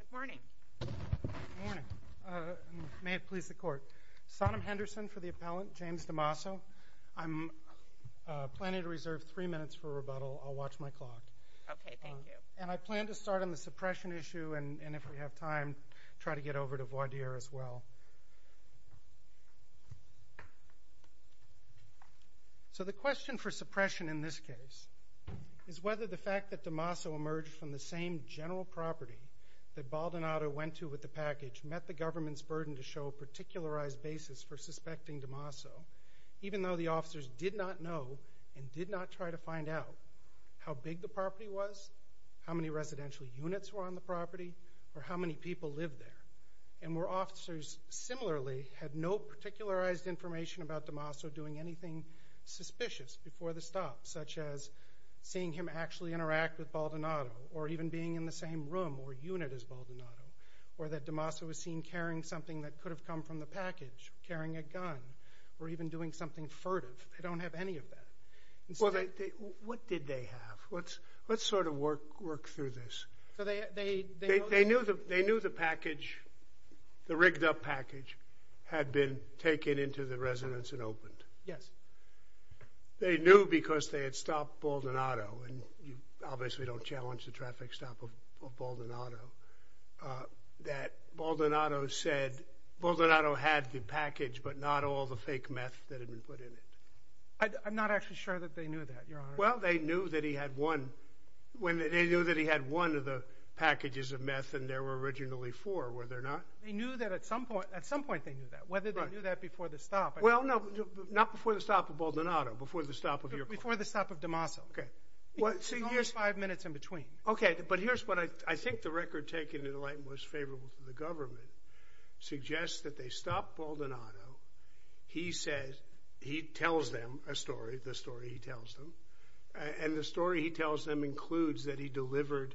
Good morning. May it please the court. Sonam Henderson for the appellant, James Damaso. I'm planning to reserve three minutes for rebuttal. I'll watch my clock. Okay, thank you. And I plan to start on the suppression issue, and if we have time, try to get over to Voidier as well. So the question for suppression in this case is whether the fact that Damaso emerged from the same general property that Baldonado went to with the package met the government's burden to show a particularized basis for suspecting Damaso, even though the officers did not know and did not try to find out how big the property was, how many residential units were on the property, or how many people lived there, and were officers similarly had no particularized information about Damaso doing anything suspicious before the stop, such as seeing him actually interact with Baldonado or even being in the same room or unit as Baldonado, or that Damaso was seen carrying something that could have come from the package, carrying a gun, or even doing something furtive. They don't have any of that. What did they have? Let's sort of work through this. They knew the package, the rigged-up package, had been taken into the residence and opened. Yes. They knew because they had stopped Baldonado, and you obviously don't challenge the traffic stop of Baldonado, that Baldonado said, Baldonado had the package but not all the fake meth that had been put in it. I'm not actually sure that they knew that, Your Honor. Well, they knew that he had one of the packages of meth, and there were originally four, were there not? They knew that at some point, at some point they knew that, whether they knew that before the stop. Well, no, not before the stop of Baldonado, before the stop of your client. Before the stop of Damaso. Okay. It was only five minutes in between. Okay, but here's what I think the record taken in the light most favorable to the government suggests, that they stop Baldonado, he says, he tells them a story, the story he tells them, and the story he tells them includes that he delivered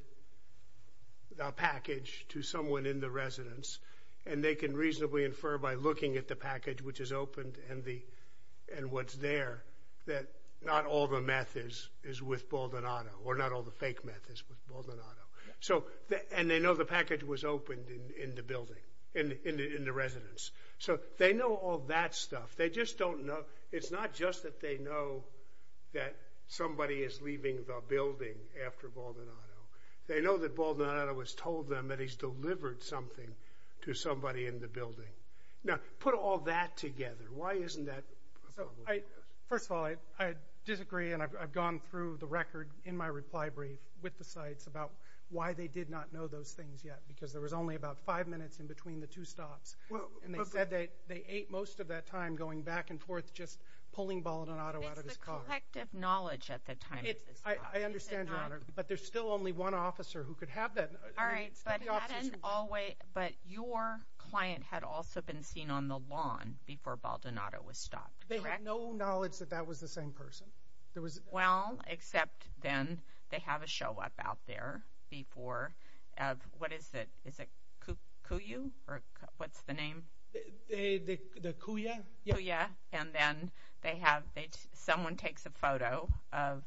the package to someone in the residence, and they can reasonably infer by looking at the package which is opened and what's there, that not all the meth is with Baldonado, or not all the fake meth is with Baldonado. And they know the package was opened in the building, in the residence. So they know all that stuff. They just don't know. It's not just that they know that somebody is leaving the building after Baldonado. They know that Baldonado has told them that he's delivered something to somebody in the building. Now, put all that together. Why isn't that? First of all, I disagree, and I've gone through the record in my reply brief with the sites about why they did not know those things yet, because there was only about five minutes in between the two stops. And they said they ate most of that time going back and forth just pulling Baldonado out of his car. It's the collective knowledge at the time. I understand, Your Honor, but there's still only one officer who could have that. All right, but your client had also been seen on the lawn before Baldonado was stopped, correct? They had no knowledge that that was the same person. Well, except then they have a show up out there before. What is it? Is it Cuyu, or what's the name? The Cuya? Cuya, and then someone takes a photo of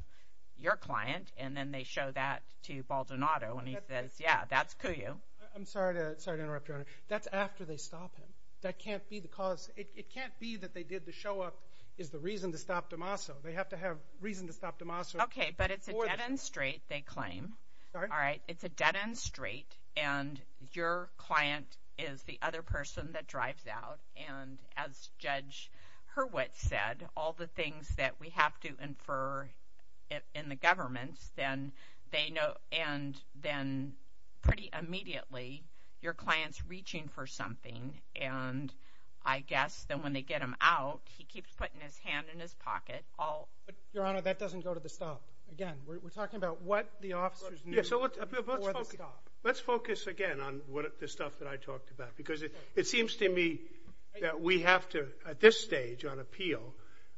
your client, and then they show that to Baldonado, and he says, yeah, that's Cuyu. I'm sorry to interrupt, Your Honor. That's after they stop him. That can't be the cause. It can't be that they did the show up is the reason to stop DeMasso. They have to have reason to stop DeMasso. Okay, but it's a dead-end street, they claim. Sorry? All right, it's a dead-end street, and your client is the other person that drives out. And as Judge Hurwitz said, all the things that we have to infer in the government, and then pretty immediately, your client's reaching for something, and I guess then when they get him out, he keeps putting his hand in his pocket. Your Honor, that doesn't go to the stop. Again, we're talking about what the officers need before the stop. Let's focus again on the stuff that I talked about, because it seems to me that we have to, at this stage on appeal,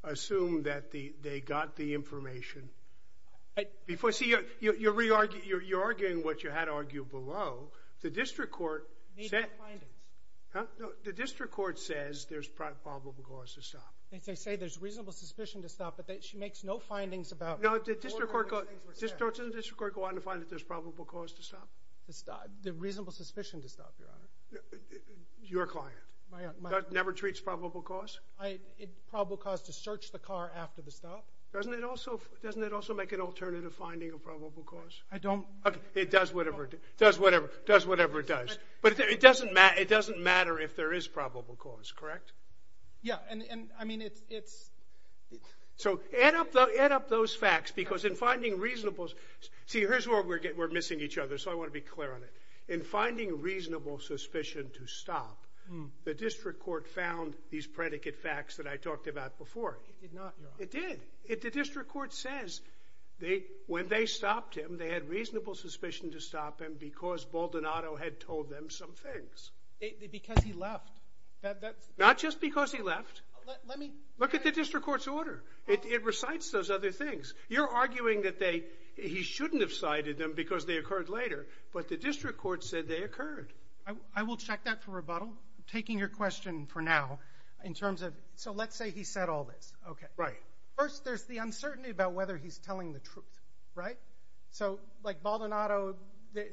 assume that they got the information. See, you're arguing what you had argued below. The district court says there's probable cause to stop. They say there's reasonable suspicion to stop, but she makes no findings about No, the district court goes on to find that there's probable cause to stop. There's reasonable suspicion to stop, Your Honor. Your client never treats probable cause? Probable cause to search the car after the stop. Doesn't it also make an alternative finding of probable cause? I don't It does whatever it does. But it doesn't matter if there is probable cause, correct? Yeah, and I mean it's So add up those facts, because in finding reasonable See, here's where we're missing each other, so I want to be clear on it. In finding reasonable suspicion to stop, the district court found these predicate facts that I talked about before. It did not, Your Honor. It did. The district court says when they stopped him, they had reasonable suspicion to stop him because Baldonado had told them some things. Because he left. Not just because he left. Look at the district court's order. It recites those other things. You're arguing that he shouldn't have cited them because they occurred later, but the district court said they occurred. I will check that for rebuttal. I'm taking your question for now in terms of So let's say he said all this. Right. First, there's the uncertainty about whether he's telling the truth, right? So, like, Baldonado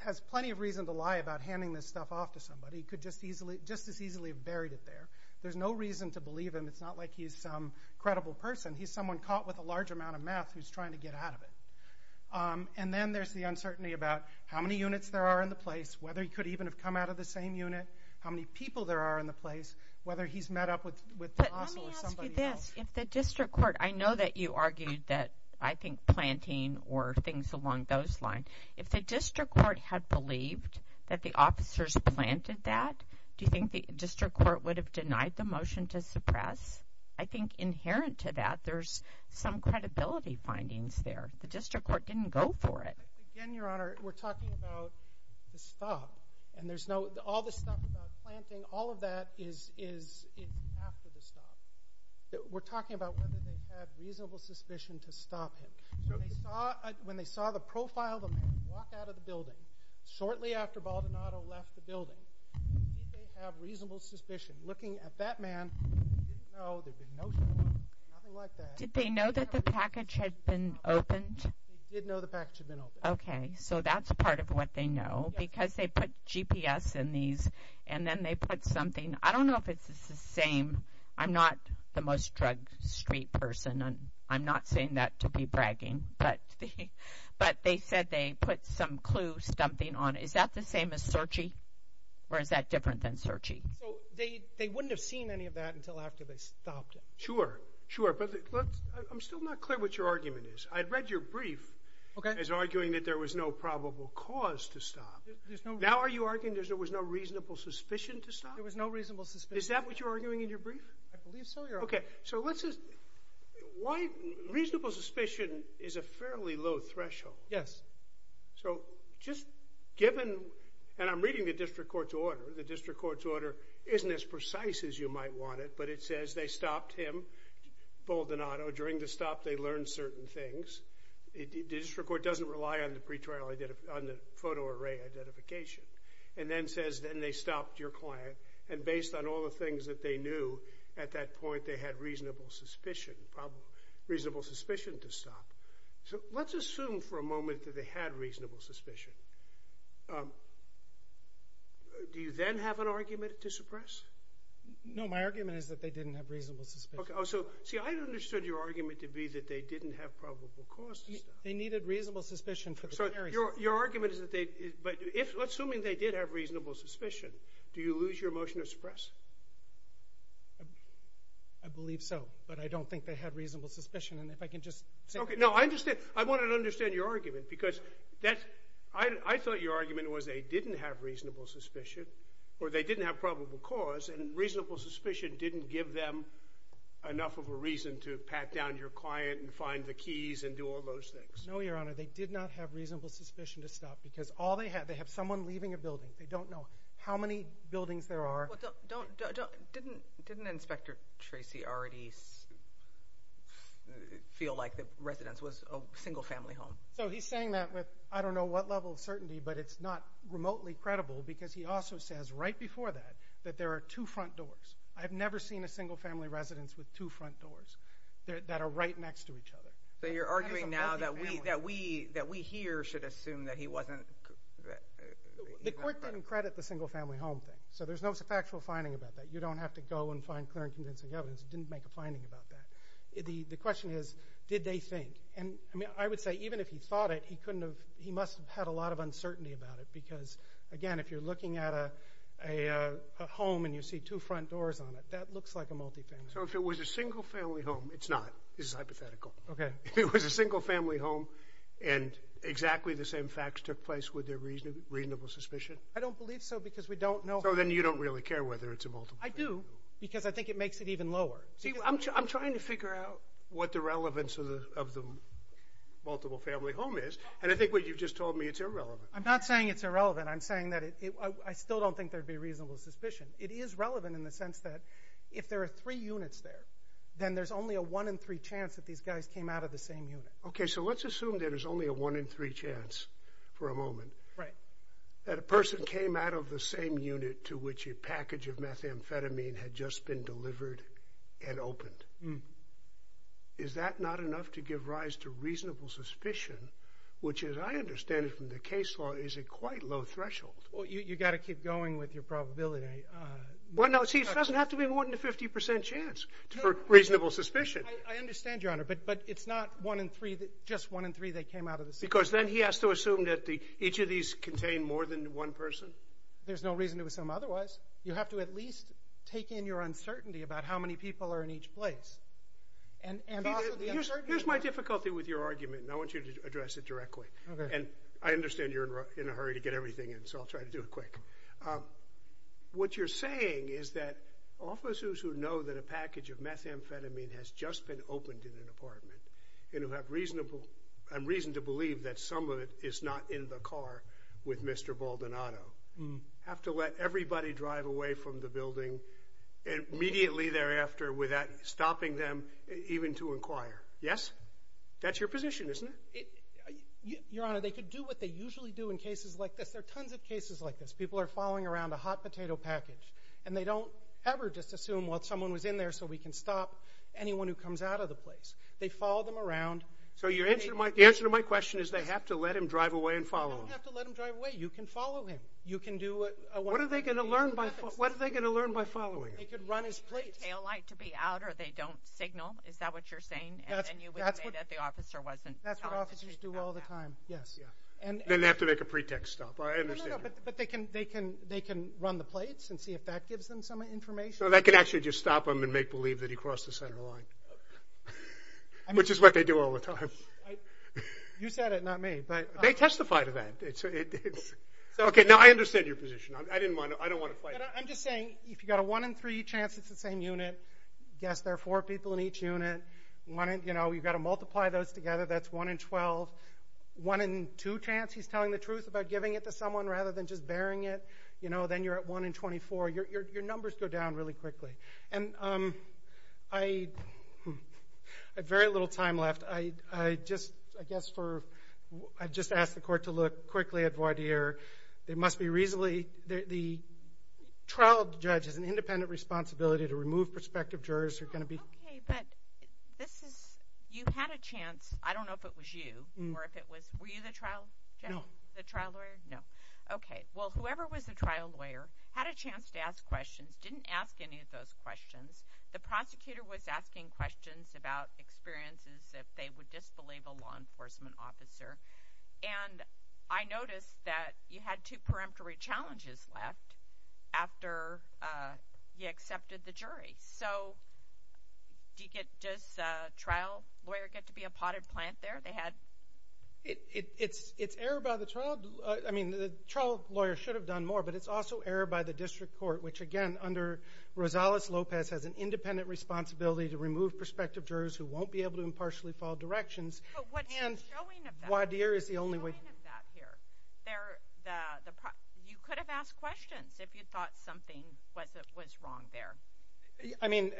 has plenty of reason to lie about handing this stuff off to somebody. He could just as easily have buried it there. There's no reason to believe him. It's not like he's some credible person. He's someone caught with a large amount of meth who's trying to get out of it. And then there's the uncertainty about how many units there are in the place, whether he could even have come out of the same unit, how many people there are in the place, whether he's met up with DeLosso or somebody else. But let me ask you this. If the district court I know that you argued that, I think, planting or things along those lines. If the district court had believed that the officers planted that, do you think the district court would have denied the motion to suppress? I think inherent to that, there's some credibility findings there. The district court didn't go for it. Again, Your Honor, we're talking about the stop. And there's no, all the stuff about planting, all of that is after the stop. We're talking about whether they had reasonable suspicion to stop him. When they saw the profile of the man walk out of the building, shortly after Baldonado left the building, did they have reasonable suspicion looking at that man Did they know that the package had been opened? They did know the package had been opened. Okay, so that's part of what they know. Because they put GPS in these, and then they put something. I don't know if it's the same. I'm not the most drug street person. I'm not saying that to be bragging. But they said they put some clue, something on it. Is that the same as searchee? Or is that different than searchee? So they wouldn't have seen any of that until after they stopped him. Sure, sure. But I'm still not clear what your argument is. I read your brief as arguing that there was no probable cause to stop. Now are you arguing there was no reasonable suspicion to stop? There was no reasonable suspicion. Is that what you're arguing in your brief? I believe so, Your Honor. Okay, so let's just, why, reasonable suspicion is a fairly low threshold. Yes. So just given, and I'm reading the district court's order, the district court's order isn't as precise as you might want it, but it says they stopped him, Baldonado. During the stop, they learned certain things. The district court doesn't rely on the photo array identification. And then says, then they stopped your client. And based on all the things that they knew, at that point they had reasonable suspicion to stop. So let's assume for a moment that they had reasonable suspicion. Do you then have an argument to suppress? No, my argument is that they didn't have reasonable suspicion. Okay, so see, I understood your argument to be that they didn't have probable cause to stop. They needed reasonable suspicion for the primary suspect. So your argument is that they, but assuming they did have reasonable suspicion, do you lose your motion to suppress? I believe so. But I don't think they had reasonable suspicion. And if I can just say that. Okay, no, I understand. I don't understand your argument because I thought your argument was they didn't have reasonable suspicion or they didn't have probable cause, and reasonable suspicion didn't give them enough of a reason to pat down your client and find the keys and do all those things. No, Your Honor, they did not have reasonable suspicion to stop because they have someone leaving a building. They don't know how many buildings there are. Didn't Inspector Tracy already feel like the residence was a single-family home? So he's saying that with I don't know what level of certainty, but it's not remotely credible because he also says right before that that there are two front doors. I've never seen a single-family residence with two front doors that are right next to each other. So you're arguing now that we here should assume that he wasn't. The court didn't credit the single-family home thing. So there's no factual finding about that. You don't have to go and find clear and convincing evidence. It didn't make a finding about that. The question is, did they think? And I would say even if he thought it, he must have had a lot of uncertainty about it because, again, if you're looking at a home and you see two front doors on it, that looks like a multi-family home. So if it was a single-family home, it's not. This is hypothetical. Okay. If it was a single-family home and exactly the same facts took place, would there be reasonable suspicion? I don't believe so because we don't know. So then you don't really care whether it's a multiple-family home. I do because I think it makes it even lower. See, I'm trying to figure out what the relevance of the multiple-family home is, and I think what you've just told me, it's irrelevant. I'm not saying it's irrelevant. I'm saying that I still don't think there would be reasonable suspicion. It is relevant in the sense that if there are three units there, then there's only a one-in-three chance that these guys came out of the same unit. Okay. So let's assume there is only a one-in-three chance for a moment. Right. Let's say, for example, that a person came out of the same unit to which a package of methamphetamine had just been delivered and opened. Is that not enough to give rise to reasonable suspicion, which, as I understand it from the case law, is a quite low threshold? Well, you've got to keep going with your probability. Well, no, see, it doesn't have to be more than a 50% chance for reasonable suspicion. I understand, Your Honor, but it's not just one-in-three that came out of the same unit. Because then he has to assume that each of these contained more than one person? There's no reason to assume otherwise. You have to at least take in your uncertainty about how many people are in each place. Here's my difficulty with your argument, and I want you to address it directly. Okay. I understand you're in a hurry to get everything in, so I'll try to do it quick. What you're saying is that officers who know that a package of methamphetamine has just been opened in an apartment and who have reason to believe that some of it is not in the car with Mr. Baldonado have to let everybody drive away from the building immediately thereafter without stopping them even to inquire. Yes? That's your position, isn't it? Your Honor, they could do what they usually do in cases like this. There are tons of cases like this. People are following around a hot potato package, and they don't ever just assume, well, someone was in there, so we can stop anyone who comes out of the place. They follow them around. So the answer to my question is they have to let him drive away and follow him. You don't have to let him drive away. You can follow him. What are they going to learn by following him? They could run his plates. They need the taillight to be out or they don't signal. Is that what you're saying? And then you would say that the officer wasn't following him back. That's what officers do all the time, yes. Then they have to make a pretext stop. I understand. But they can run the plates and see if that gives them some information. So they can actually just stop him and make believe that he crossed the center line, which is what they do all the time. You said it, not me. They testify to that. Now, I understand your position. I don't want to fight it. I'm just saying if you've got a one in three chance it's the same unit, guess there are four people in each unit. You've got to multiply those together. That's one in 12. One in two chance he's telling the truth about giving it to someone rather than just bearing it. Then you're at one in 24. Your numbers go down really quickly. I have very little time left. I just asked the court to look quickly at Vardir. There must be reasonably the trial judge has an independent responsibility to remove prospective jurors. Okay, but you had a chance. I don't know if it was you. Were you the trial judge? No. The trial lawyer? No. Okay. Well, whoever was the trial lawyer had a chance to ask questions, didn't ask any of those questions. The prosecutor was asking questions about experiences if they would disbelieve a law enforcement officer. And I noticed that you had two peremptory challenges left after you accepted the jury. Does a trial lawyer get to be a potted plant there? It's error by the trial. I mean, the trial lawyer should have done more, but it's also error by the district court, which, again, under Rosales-Lopez has an independent responsibility to remove prospective jurors who won't be able to impartially follow directions. But what's the showing of that? Vardir is the only way. What's the showing of that here? You could have asked questions if you thought something was wrong there. I mean,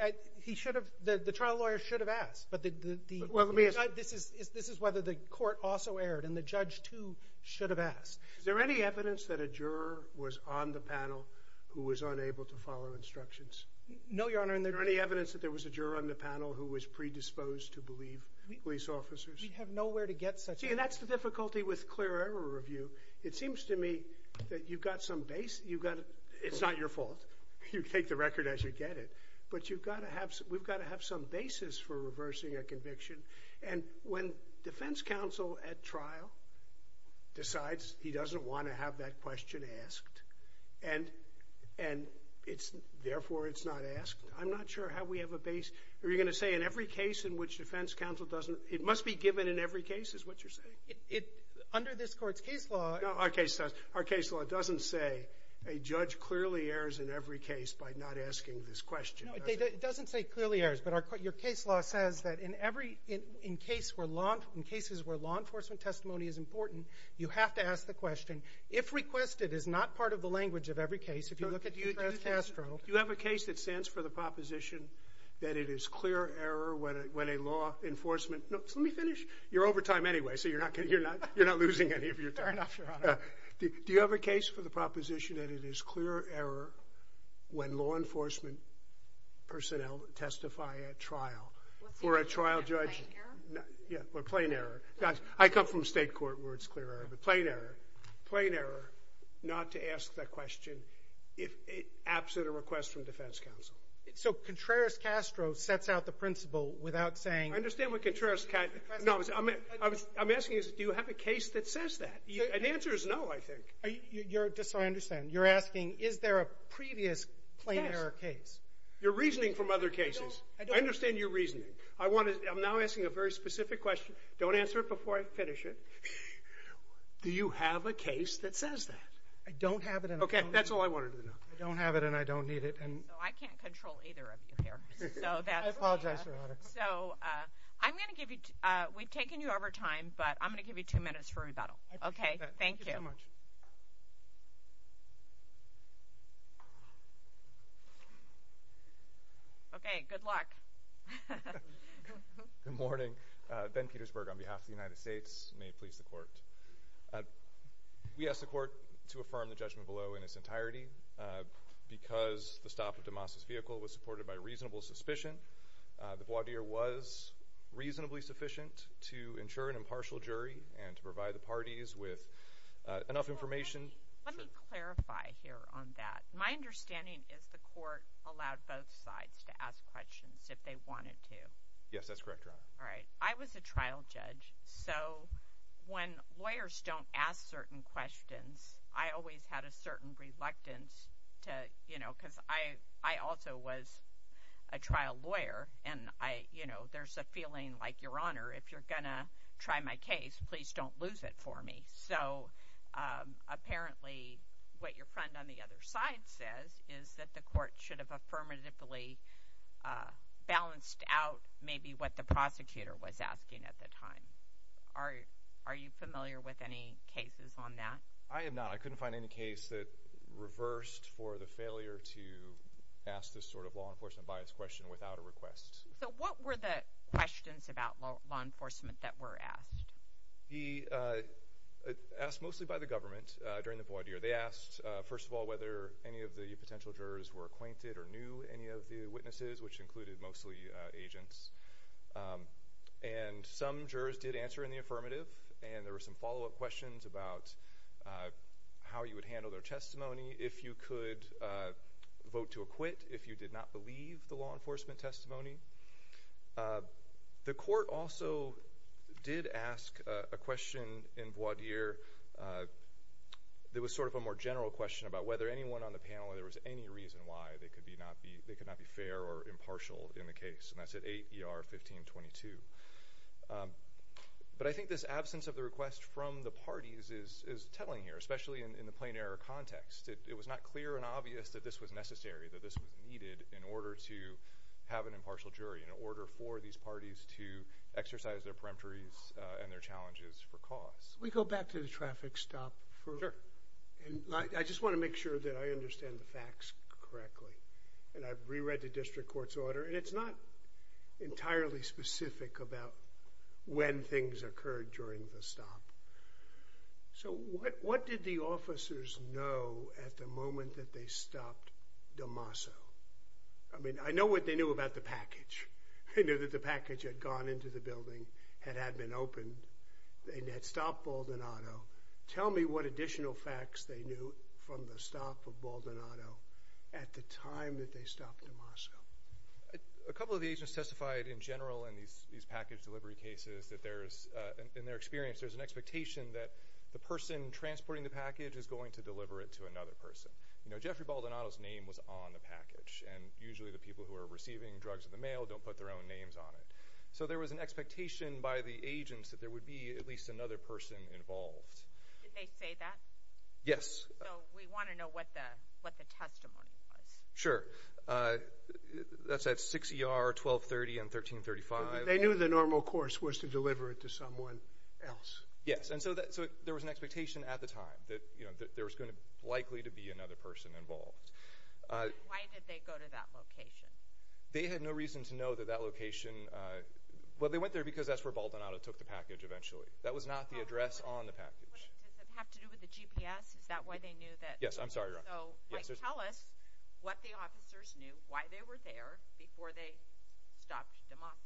the trial lawyer should have asked, but this is whether the court also erred and the judge, too, should have asked. Is there any evidence that a juror was on the panel who was unable to follow instructions? No, Your Honor. And is there any evidence that there was a juror on the panel who was predisposed to believe police officers? We have nowhere to get such evidence. See, and that's the difficulty with clear error review. It seems to me that you've got some base. It's not your fault. You take the record as you get it. But we've got to have some basis for reversing a conviction. And when defense counsel at trial decides he doesn't want to have that question asked and therefore it's not asked, I'm not sure how we have a base. Are you going to say in every case in which defense counsel doesn't? It must be given in every case is what you're saying. Under this Court's case law. No, our case doesn't. Our case law doesn't say a judge clearly errors in every case by not asking this question. No, it doesn't say clearly errors, but your case law says that in every case where law enforcement testimony is important, you have to ask the question. If requested is not part of the language of every case. If you look at contrast astro. Do you have a case that stands for the proposition that it is clear error when a law enforcement Let me finish. You're over time anyway, so you're not losing any of your time. Fair enough, Your Honor. Do you have a case for the proposition that it is clear error when law enforcement personnel testify at trial? Or a trial judge. Plain error? Yeah, or plain error. I come from state court where it's clear error, but plain error. Plain error not to ask that question if absent a request from defense counsel. So contrast astro sets out the principle without saying. I understand what contrast. I'm asking you, do you have a case that says that? The answer is no, I think. I understand. You're asking is there a previous plain error case? You're reasoning from other cases. I understand your reasoning. I'm now asking a very specific question. Don't answer it before I finish it. Do you have a case that says that? I don't have it. Okay, that's all I wanted to know. I don't have it and I don't need it. I can't control either of you here. I apologize, Your Honor. So I'm going to give you ‑‑ we've taken you over time, but I'm going to give you two minutes for rebuttal. Okay, thank you. Thank you so much. Okay, good luck. Good morning. Ben Petersburg on behalf of the United States. May it please the Court. We ask the Court to affirm the judgment below in its entirety because the stop of DeMoss' vehicle was supported by reasonable suspicion. The voir dire was reasonably sufficient to ensure an impartial jury and to provide the parties with enough information. Let me clarify here on that. My understanding is the Court allowed both sides to ask questions if they wanted to. Yes, that's correct, Your Honor. All right. I was a trial judge, so when lawyers don't ask certain questions, I always had a certain reluctance to, you know, because I also was a trial lawyer, and, you know, there's a feeling like, Your Honor, if you're going to try my case, please don't lose it for me. So apparently what your friend on the other side says is that the Court should have affirmatively balanced out maybe what the prosecutor was asking at the time. Are you familiar with any cases on that? I am not. I couldn't find any case that reversed for the failure to ask this sort of law enforcement bias question without a request. So what were the questions about law enforcement that were asked? They were asked mostly by the government during the voir dire. They asked, first of all, whether any of the potential jurors were acquainted or knew any of the witnesses, which included mostly agents. And some jurors did answer in the affirmative, and there were some follow-up questions about how you would handle their testimony, if you could vote to acquit, if you did not believe the law enforcement testimony. The Court also did ask a question in voir dire. It was sort of a more general question about whether anyone on the panel, if there was any reason why they could not be fair or impartial in the case, and that's at 8 ER 1522. But I think this absence of the request from the parties is telling here, especially in the plain error context. It was not clear and obvious that this was necessary, that this was needed in order to have an impartial jury, in order for these parties to exercise their peremptories and their challenges for cause. Can we go back to the traffic stop? Sure. I just want to make sure that I understand the facts correctly, and I've reread the district court's order, and it's not entirely specific about when things occurred during the stop. So what did the officers know at the moment that they stopped DeMasso? I mean, I know what they knew about the package. They knew that the package had gone into the building, had had been opened, and had stopped Baldonado. Tell me what additional facts they knew from the stop of Baldonado at the time that they stopped DeMasso. A couple of the agents testified in general in these package delivery cases that there's, in their experience, there's an expectation that the person transporting the package is going to deliver it to another person. You know, Jeffrey Baldonado's name was on the package, and usually the people who are receiving drugs in the mail don't put their own names on it. So there was an expectation by the agents that there would be at least another person involved. Did they say that? Yes. So we want to know what the testimony was. Sure. That's at 6 ER 1230 and 1335. They knew the normal course was to deliver it to someone else. Yes, and so there was an expectation at the time that there was likely to be another person involved. Why did they go to that location? They had no reason to know that that location— well, they went there because that's where Baldonado took the package eventually. That was not the address on the package. Does it have to do with the GPS? Is that why they knew that— Yes, I'm sorry. Tell us what the officers knew, why they were there, before they stopped Dimapa.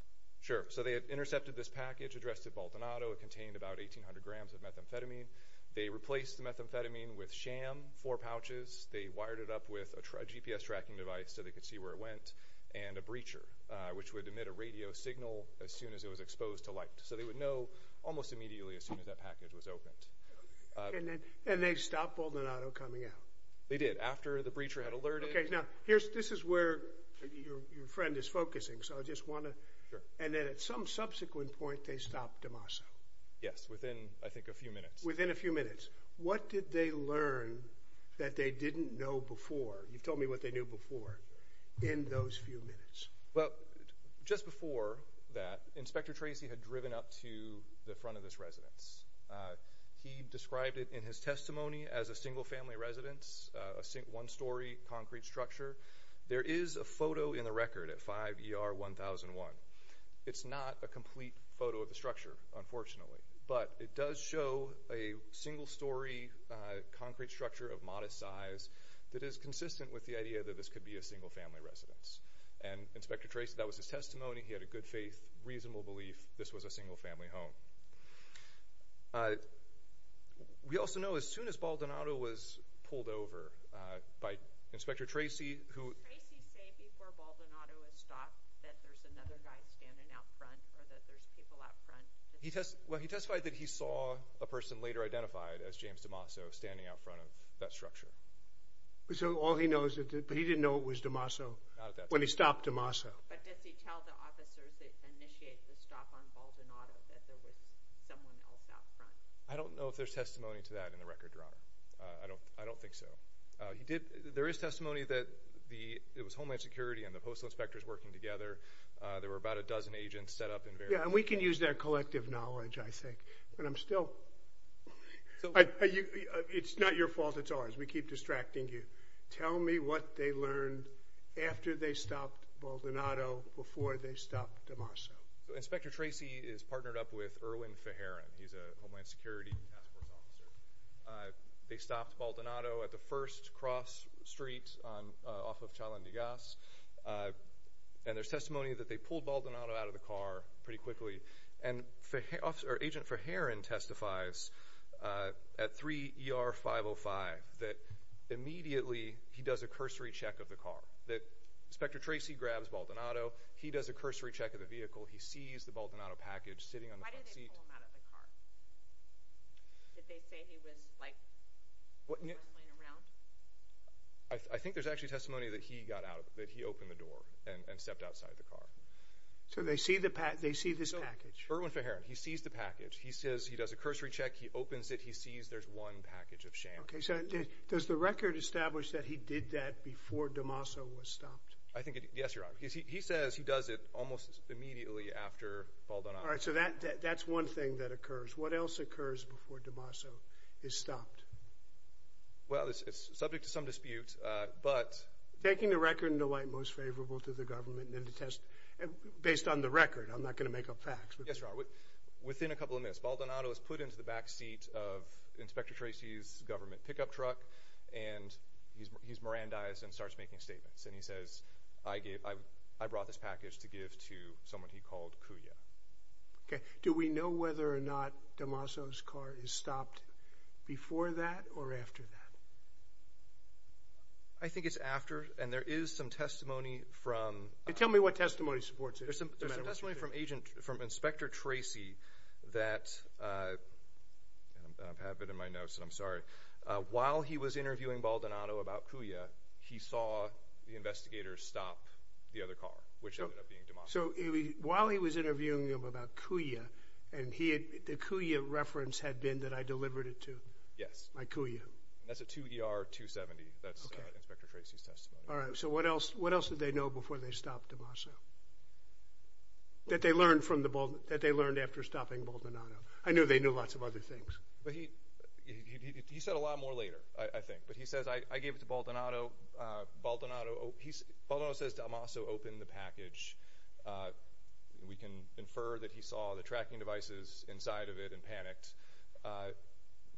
Sure. So they had intercepted this package addressed to Baldonado. It contained about 1,800 grams of methamphetamine. They replaced the methamphetamine with sham, four pouches. They wired it up with a GPS tracking device so they could see where it went, and a breacher, which would emit a radio signal as soon as it was exposed to light. So they would know almost immediately as soon as that package was opened. And they stopped Baldonado coming out. They did, after the breacher had alerted— Okay, now, this is where your friend is focusing, so I just want to— Sure. And then at some subsequent point, they stopped Dimapa. Yes, within, I think, a few minutes. Within a few minutes. What did they learn that they didn't know before— you've told me what they knew before—in those few minutes? Well, just before that, Inspector Tracy had driven up to the front of this residence. He described it in his testimony as a single-family residence, a one-story concrete structure. There is a photo in the record at 5 ER 1001. It's not a complete photo of the structure, unfortunately, but it does show a single-story concrete structure of modest size that is consistent with the idea that this could be a single-family residence. And, Inspector Tracy, that was his testimony. He had a good faith, reasonable belief this was a single-family home. We also know as soon as Baldonado was pulled over by Inspector Tracy, who— Did Tracy say before Baldonado had stopped that there's another guy standing out front or that there's people out front? Well, he testified that he saw a person later identified as James DeMasso standing out front of that structure. So all he knows, but he didn't know it was DeMasso? Not at that point. When he stopped DeMasso. But does he tell the officers that initiated the stop on Baldonado that there was someone else out front? I don't know if there's testimony to that in the record, Your Honor. I don't think so. There is testimony that it was Homeland Security and the postal inspectors working together. There were about a dozen agents set up in various— Yeah, and we can use that collective knowledge, I think. And I'm still— It's not your fault, it's ours. We keep distracting you. Tell me what they learned after they stopped Baldonado before they stopped DeMasso. Inspector Tracy is partnered up with Erwin Fajaran. He's a Homeland Security task force officer. They stopped Baldonado at the first cross street off of Chalendigas. And there's testimony that they pulled Baldonado out of the car pretty quickly. And Agent Fajaran testifies at 3 ER 505 that immediately he does a cursory check of the car. Inspector Tracy grabs Baldonado. He does a cursory check of the vehicle. He sees the Baldonado package sitting on the front seat. Why did they pull him out of the car? Did they say he was, like, rambling around? I think there's actually testimony that he got out of it, that he opened the door and stepped outside the car. So they see this package. Erwin Fajaran, he sees the package. He says he does a cursory check. He opens it. And he sees there's one package of sham. Okay. So does the record establish that he did that before DeMaso was stopped? Yes, Your Honor. He says he does it almost immediately after Baldonado. All right. So that's one thing that occurs. What else occurs before DeMaso is stopped? Well, it's subject to some dispute. Taking the record into light most favorable to the government and then to test based on the record. I'm not going to make up facts. Yes, Your Honor. Within a couple of minutes, Baldonado is put into the back seat of Inspector Tracy's government pickup truck, and he's Mirandized and starts making statements. And he says, I brought this package to give to someone he called Kuya. Okay. Do we know whether or not DeMaso's car is stopped before that or after that? I think it's after. And there is some testimony from – Tell me what testimony supports it. There's some testimony from Inspector Tracy that – and I have it in my notes, and I'm sorry. While he was interviewing Baldonado about Kuya, he saw the investigator stop the other car, which ended up being DeMaso. So while he was interviewing him about Kuya, and the Kuya reference had been that I delivered it to? Yes. My Kuya. That's a 2ER270. That's Inspector Tracy's testimony. All right. So what else did they know before they stopped DeMaso? That they learned after stopping Baldonado. I know they knew lots of other things. He said a lot more later, I think. But he says, I gave it to Baldonado. Baldonado says DeMaso opened the package. We can infer that he saw the tracking devices inside of it and panicked.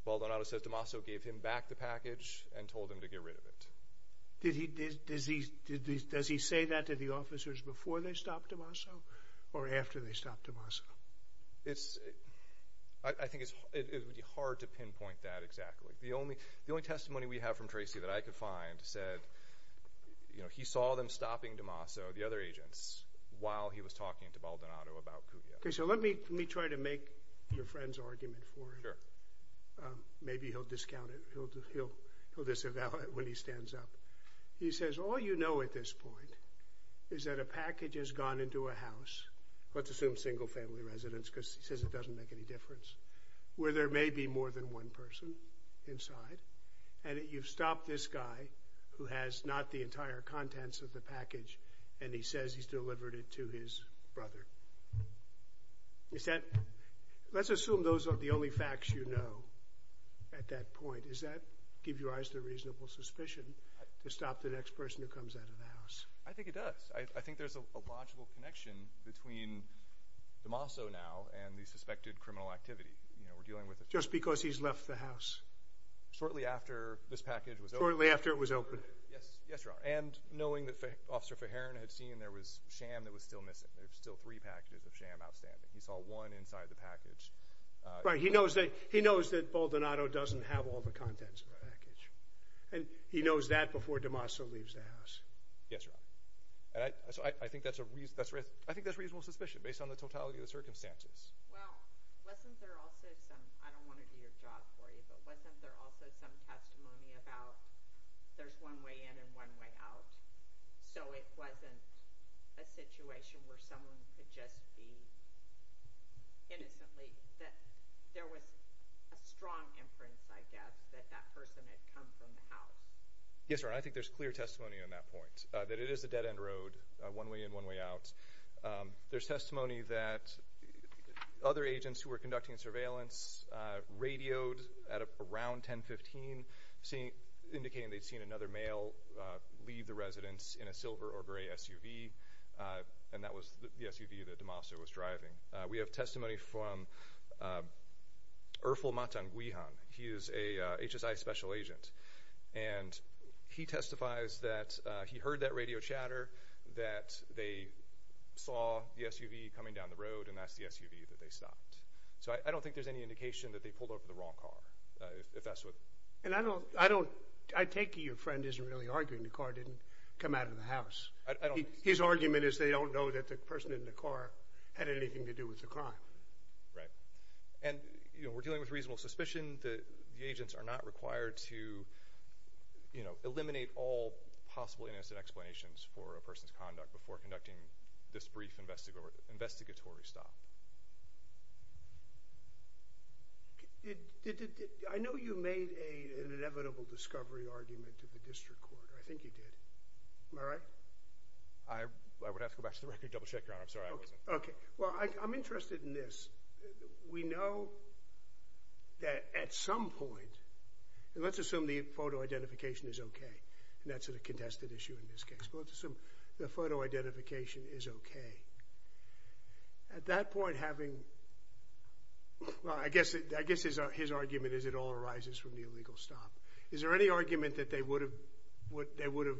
Baldonado says DeMaso gave him back the package and told him to get rid of it. Does he say that to the officers before they stopped DeMaso or after they stopped DeMaso? I think it would be hard to pinpoint that exactly. The only testimony we have from Tracy that I could find said he saw them stopping DeMaso, the other agents, while he was talking to Baldonado about Kuya. Okay, so let me try to make your friend's argument for it. Maybe he'll discount it. He'll disavow it when he stands up. He says, all you know at this point is that a package has gone into a house, let's assume single-family residence because he says it doesn't make any difference, where there may be more than one person inside, and you've stopped this guy who has not the entire contents of the package, and he says he's delivered it to his brother. Let's assume those are the only facts you know at that point. Does that give your eyes the reasonable suspicion to stop the next person who comes out of the house? I think it does. I think there's a logical connection between DeMaso now and the suspected criminal activity. Just because he's left the house? Shortly after this package was opened. Shortly after it was opened. Yes, Your Honor. And knowing that Officer Feheran had seen there was sham that was still missing. There were still three packages of sham outstanding. He saw one inside the package. Right. He knows that Baldonado doesn't have all the contents of the package, and he knows that before DeMaso leaves the house. Yes, Your Honor. I think that's a reasonable suspicion based on the totality of the circumstances. Well, wasn't there also some, I don't want to do your job for you, but wasn't there also some testimony about there's one way in and one way out? So it wasn't a situation where someone could just be innocently. There was a strong inference, I guess, that that person had come from the house. Yes, Your Honor. I think there's clear testimony on that point, that it is a dead-end road, one way in, one way out. There's testimony that other agents who were conducting surveillance radioed at around 10.15, indicating they'd seen another male leave the residence in a silver or gray SUV, and that was the SUV that DeMaso was driving. We have testimony from Erfel Matan Guihan. He is a HSI special agent, and he testifies that he heard that radio chatter, that they saw the SUV coming down the road, and that's the SUV that they stopped. So I don't think there's any indication that they pulled over the wrong car. I take it your friend isn't really arguing the car didn't come out of the house. His argument is they don't know that the person in the car had anything to do with the crime. Right. And we're dealing with reasonable suspicion. The agents are not required to eliminate all possible innocent explanations for a person's conduct before conducting this brief investigatory stop. I know you made an inevitable discovery argument at the district court. I think you did. Am I right? I would have to go back to the record and double-check, Your Honor. I'm sorry I wasn't. Okay. Well, I'm interested in this. We know that at some point, and let's assume the photo identification is okay, and that's a contested issue in this case, but let's assume the photo identification is okay. At that point, having—well, I guess his argument is it all arises from the illegal stop. Is there any argument that they would have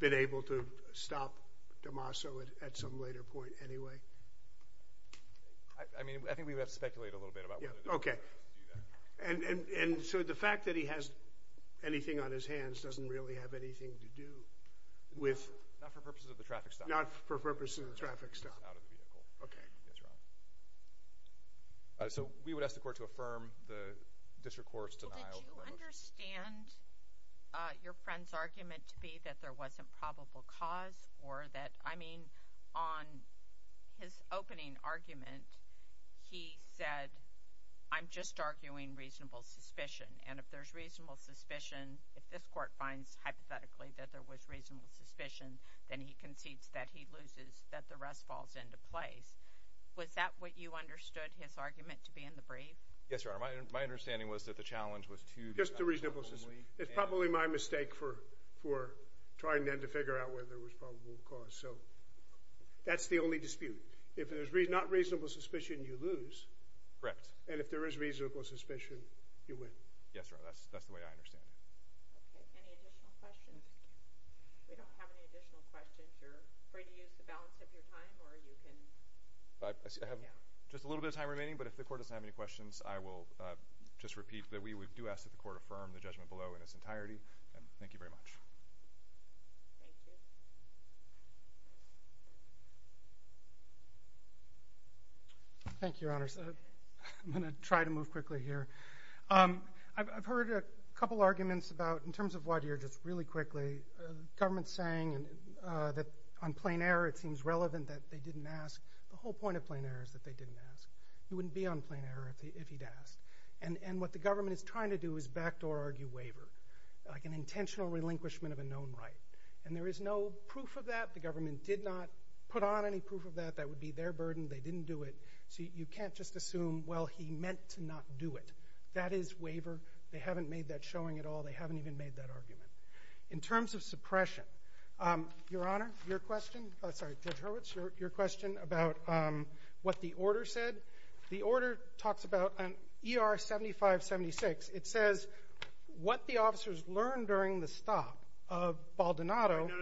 been able to stop Damaso at some later point anyway? I mean, I think we would have to speculate a little bit about whether they would have been able to do that. Okay. And so the fact that he has anything on his hands doesn't really have anything to do with— Not for purposes of the traffic stop. Not for purposes of the traffic stop. Out of the vehicle. Okay. Yes, Your Honor. So we would ask the court to affirm the district court's denial. Did you understand your friend's argument to be that there wasn't probable cause or that— In his opening argument, he said, I'm just arguing reasonable suspicion, and if there's reasonable suspicion, if this court finds hypothetically that there was reasonable suspicion, then he concedes that he loses, that the rest falls into place. Was that what you understood his argument to be in the brief? Yes, Your Honor. My understanding was that the challenge was to— Just the reasonable suspicion. It's probably my mistake for trying then to figure out whether there was probable cause. So that's the only dispute. If there's not reasonable suspicion, you lose. Correct. And if there is reasonable suspicion, you win. Yes, Your Honor. That's the way I understand it. Okay. Any additional questions? We don't have any additional questions. You're free to use the balance of your time, or you can— I have just a little bit of time remaining, but if the court doesn't have any questions, I will just repeat that we do ask that the court affirm the judgment below in its entirety. Thank you very much. Thank you. Thank you, Your Honors. I'm going to try to move quickly here. I've heard a couple arguments about, in terms of Wadhir, just really quickly, government saying that on plain error it seems relevant that they didn't ask. The whole point of plain error is that they didn't ask. He wouldn't be on plain error if he'd asked. And what the government is trying to do is backdoor argue waiver, like an intentional relinquishment of a known right. And there is no proof of that. The government did not put on any proof of that. That would be their burden. They didn't do it. So you can't just assume, well, he meant to not do it. That is waiver. They haven't made that showing at all. They haven't even made that argument. In terms of suppression, Your Honor, your question—I'm sorry, Judge Hurwitz, your question about what the order said. The order talks about an ER 7576. It says what the officers learned during the stop of Baldonado— the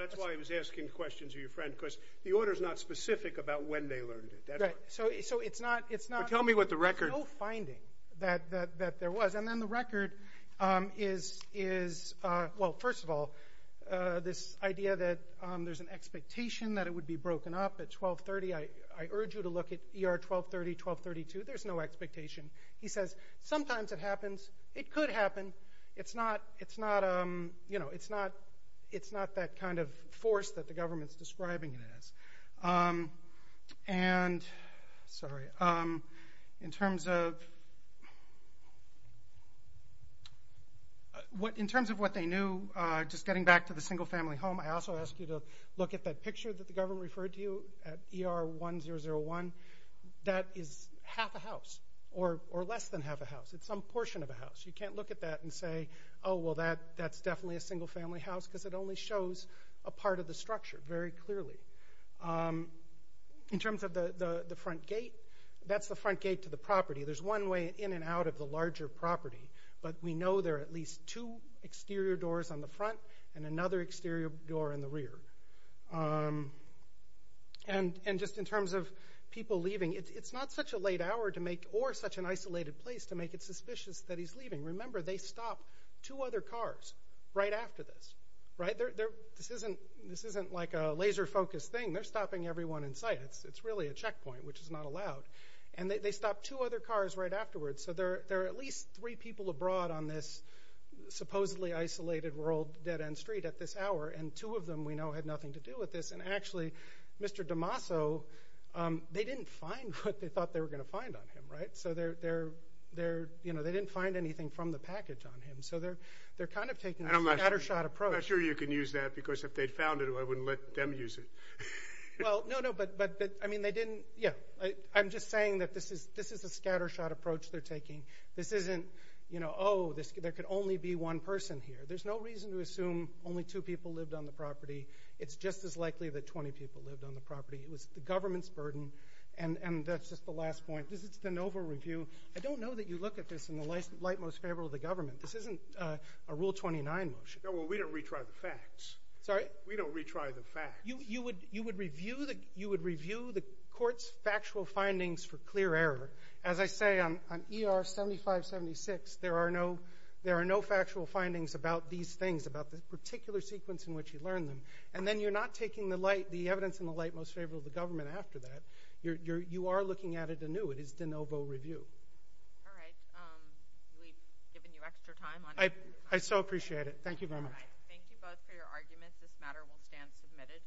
order is not specific about when they learned it. So it's not— Tell me what the record— There's no finding that there was. And then the record is, well, first of all, this idea that there's an expectation that it would be broken up at 1230. I urge you to look at ER 1230, 1232. There's no expectation. He says sometimes it happens. It could happen. It's not that kind of force that the government is describing it as. And—sorry. In terms of what they knew, just getting back to the single-family home, I also ask you to look at that picture that the government referred to at ER 1001. That is half a house or less than half a house. It's some portion of a house. You can't look at that and say, oh, well, that's definitely a single-family house because it only shows a part of the structure very clearly. In terms of the front gate, that's the front gate to the property. There's one way in and out of the larger property, but we know there are at least two exterior doors on the front and another exterior door in the rear. And just in terms of people leaving, it's not such a late hour to make— Remember, they stop two other cars right after this. This isn't like a laser-focused thing. They're stopping everyone in sight. It's really a checkpoint, which is not allowed. And they stop two other cars right afterwards. So there are at least three people abroad on this supposedly isolated world dead-end street at this hour, and two of them we know had nothing to do with this. And actually, Mr. DeMasso, they didn't find what they thought they were going to find on him. So they didn't find anything from the package on him. So they're kind of taking a scattershot approach. I'm not sure you can use that because if they'd found it, I wouldn't let them use it. Well, no, no, but I mean they didn't— I'm just saying that this is a scattershot approach they're taking. This isn't, you know, oh, there could only be one person here. There's no reason to assume only two people lived on the property. It's just as likely that 20 people lived on the property. It was the government's burden, and that's just the last point. This is the NOVA review. I don't know that you look at this in the light most favorable of the government. This isn't a Rule 29 motion. No, well, we don't retry the facts. Sorry? We don't retry the facts. You would review the court's factual findings for clear error. As I say, on ER 7576, there are no factual findings about these things, about the particular sequence in which you learned them. And then you're not taking the evidence in the light most favorable of the government after that. You are looking at it anew. It is the NOVA review. All right. We've given you extra time. I so appreciate it. Thank you very much. All right. Thank you both for your arguments. This matter will stand submitted.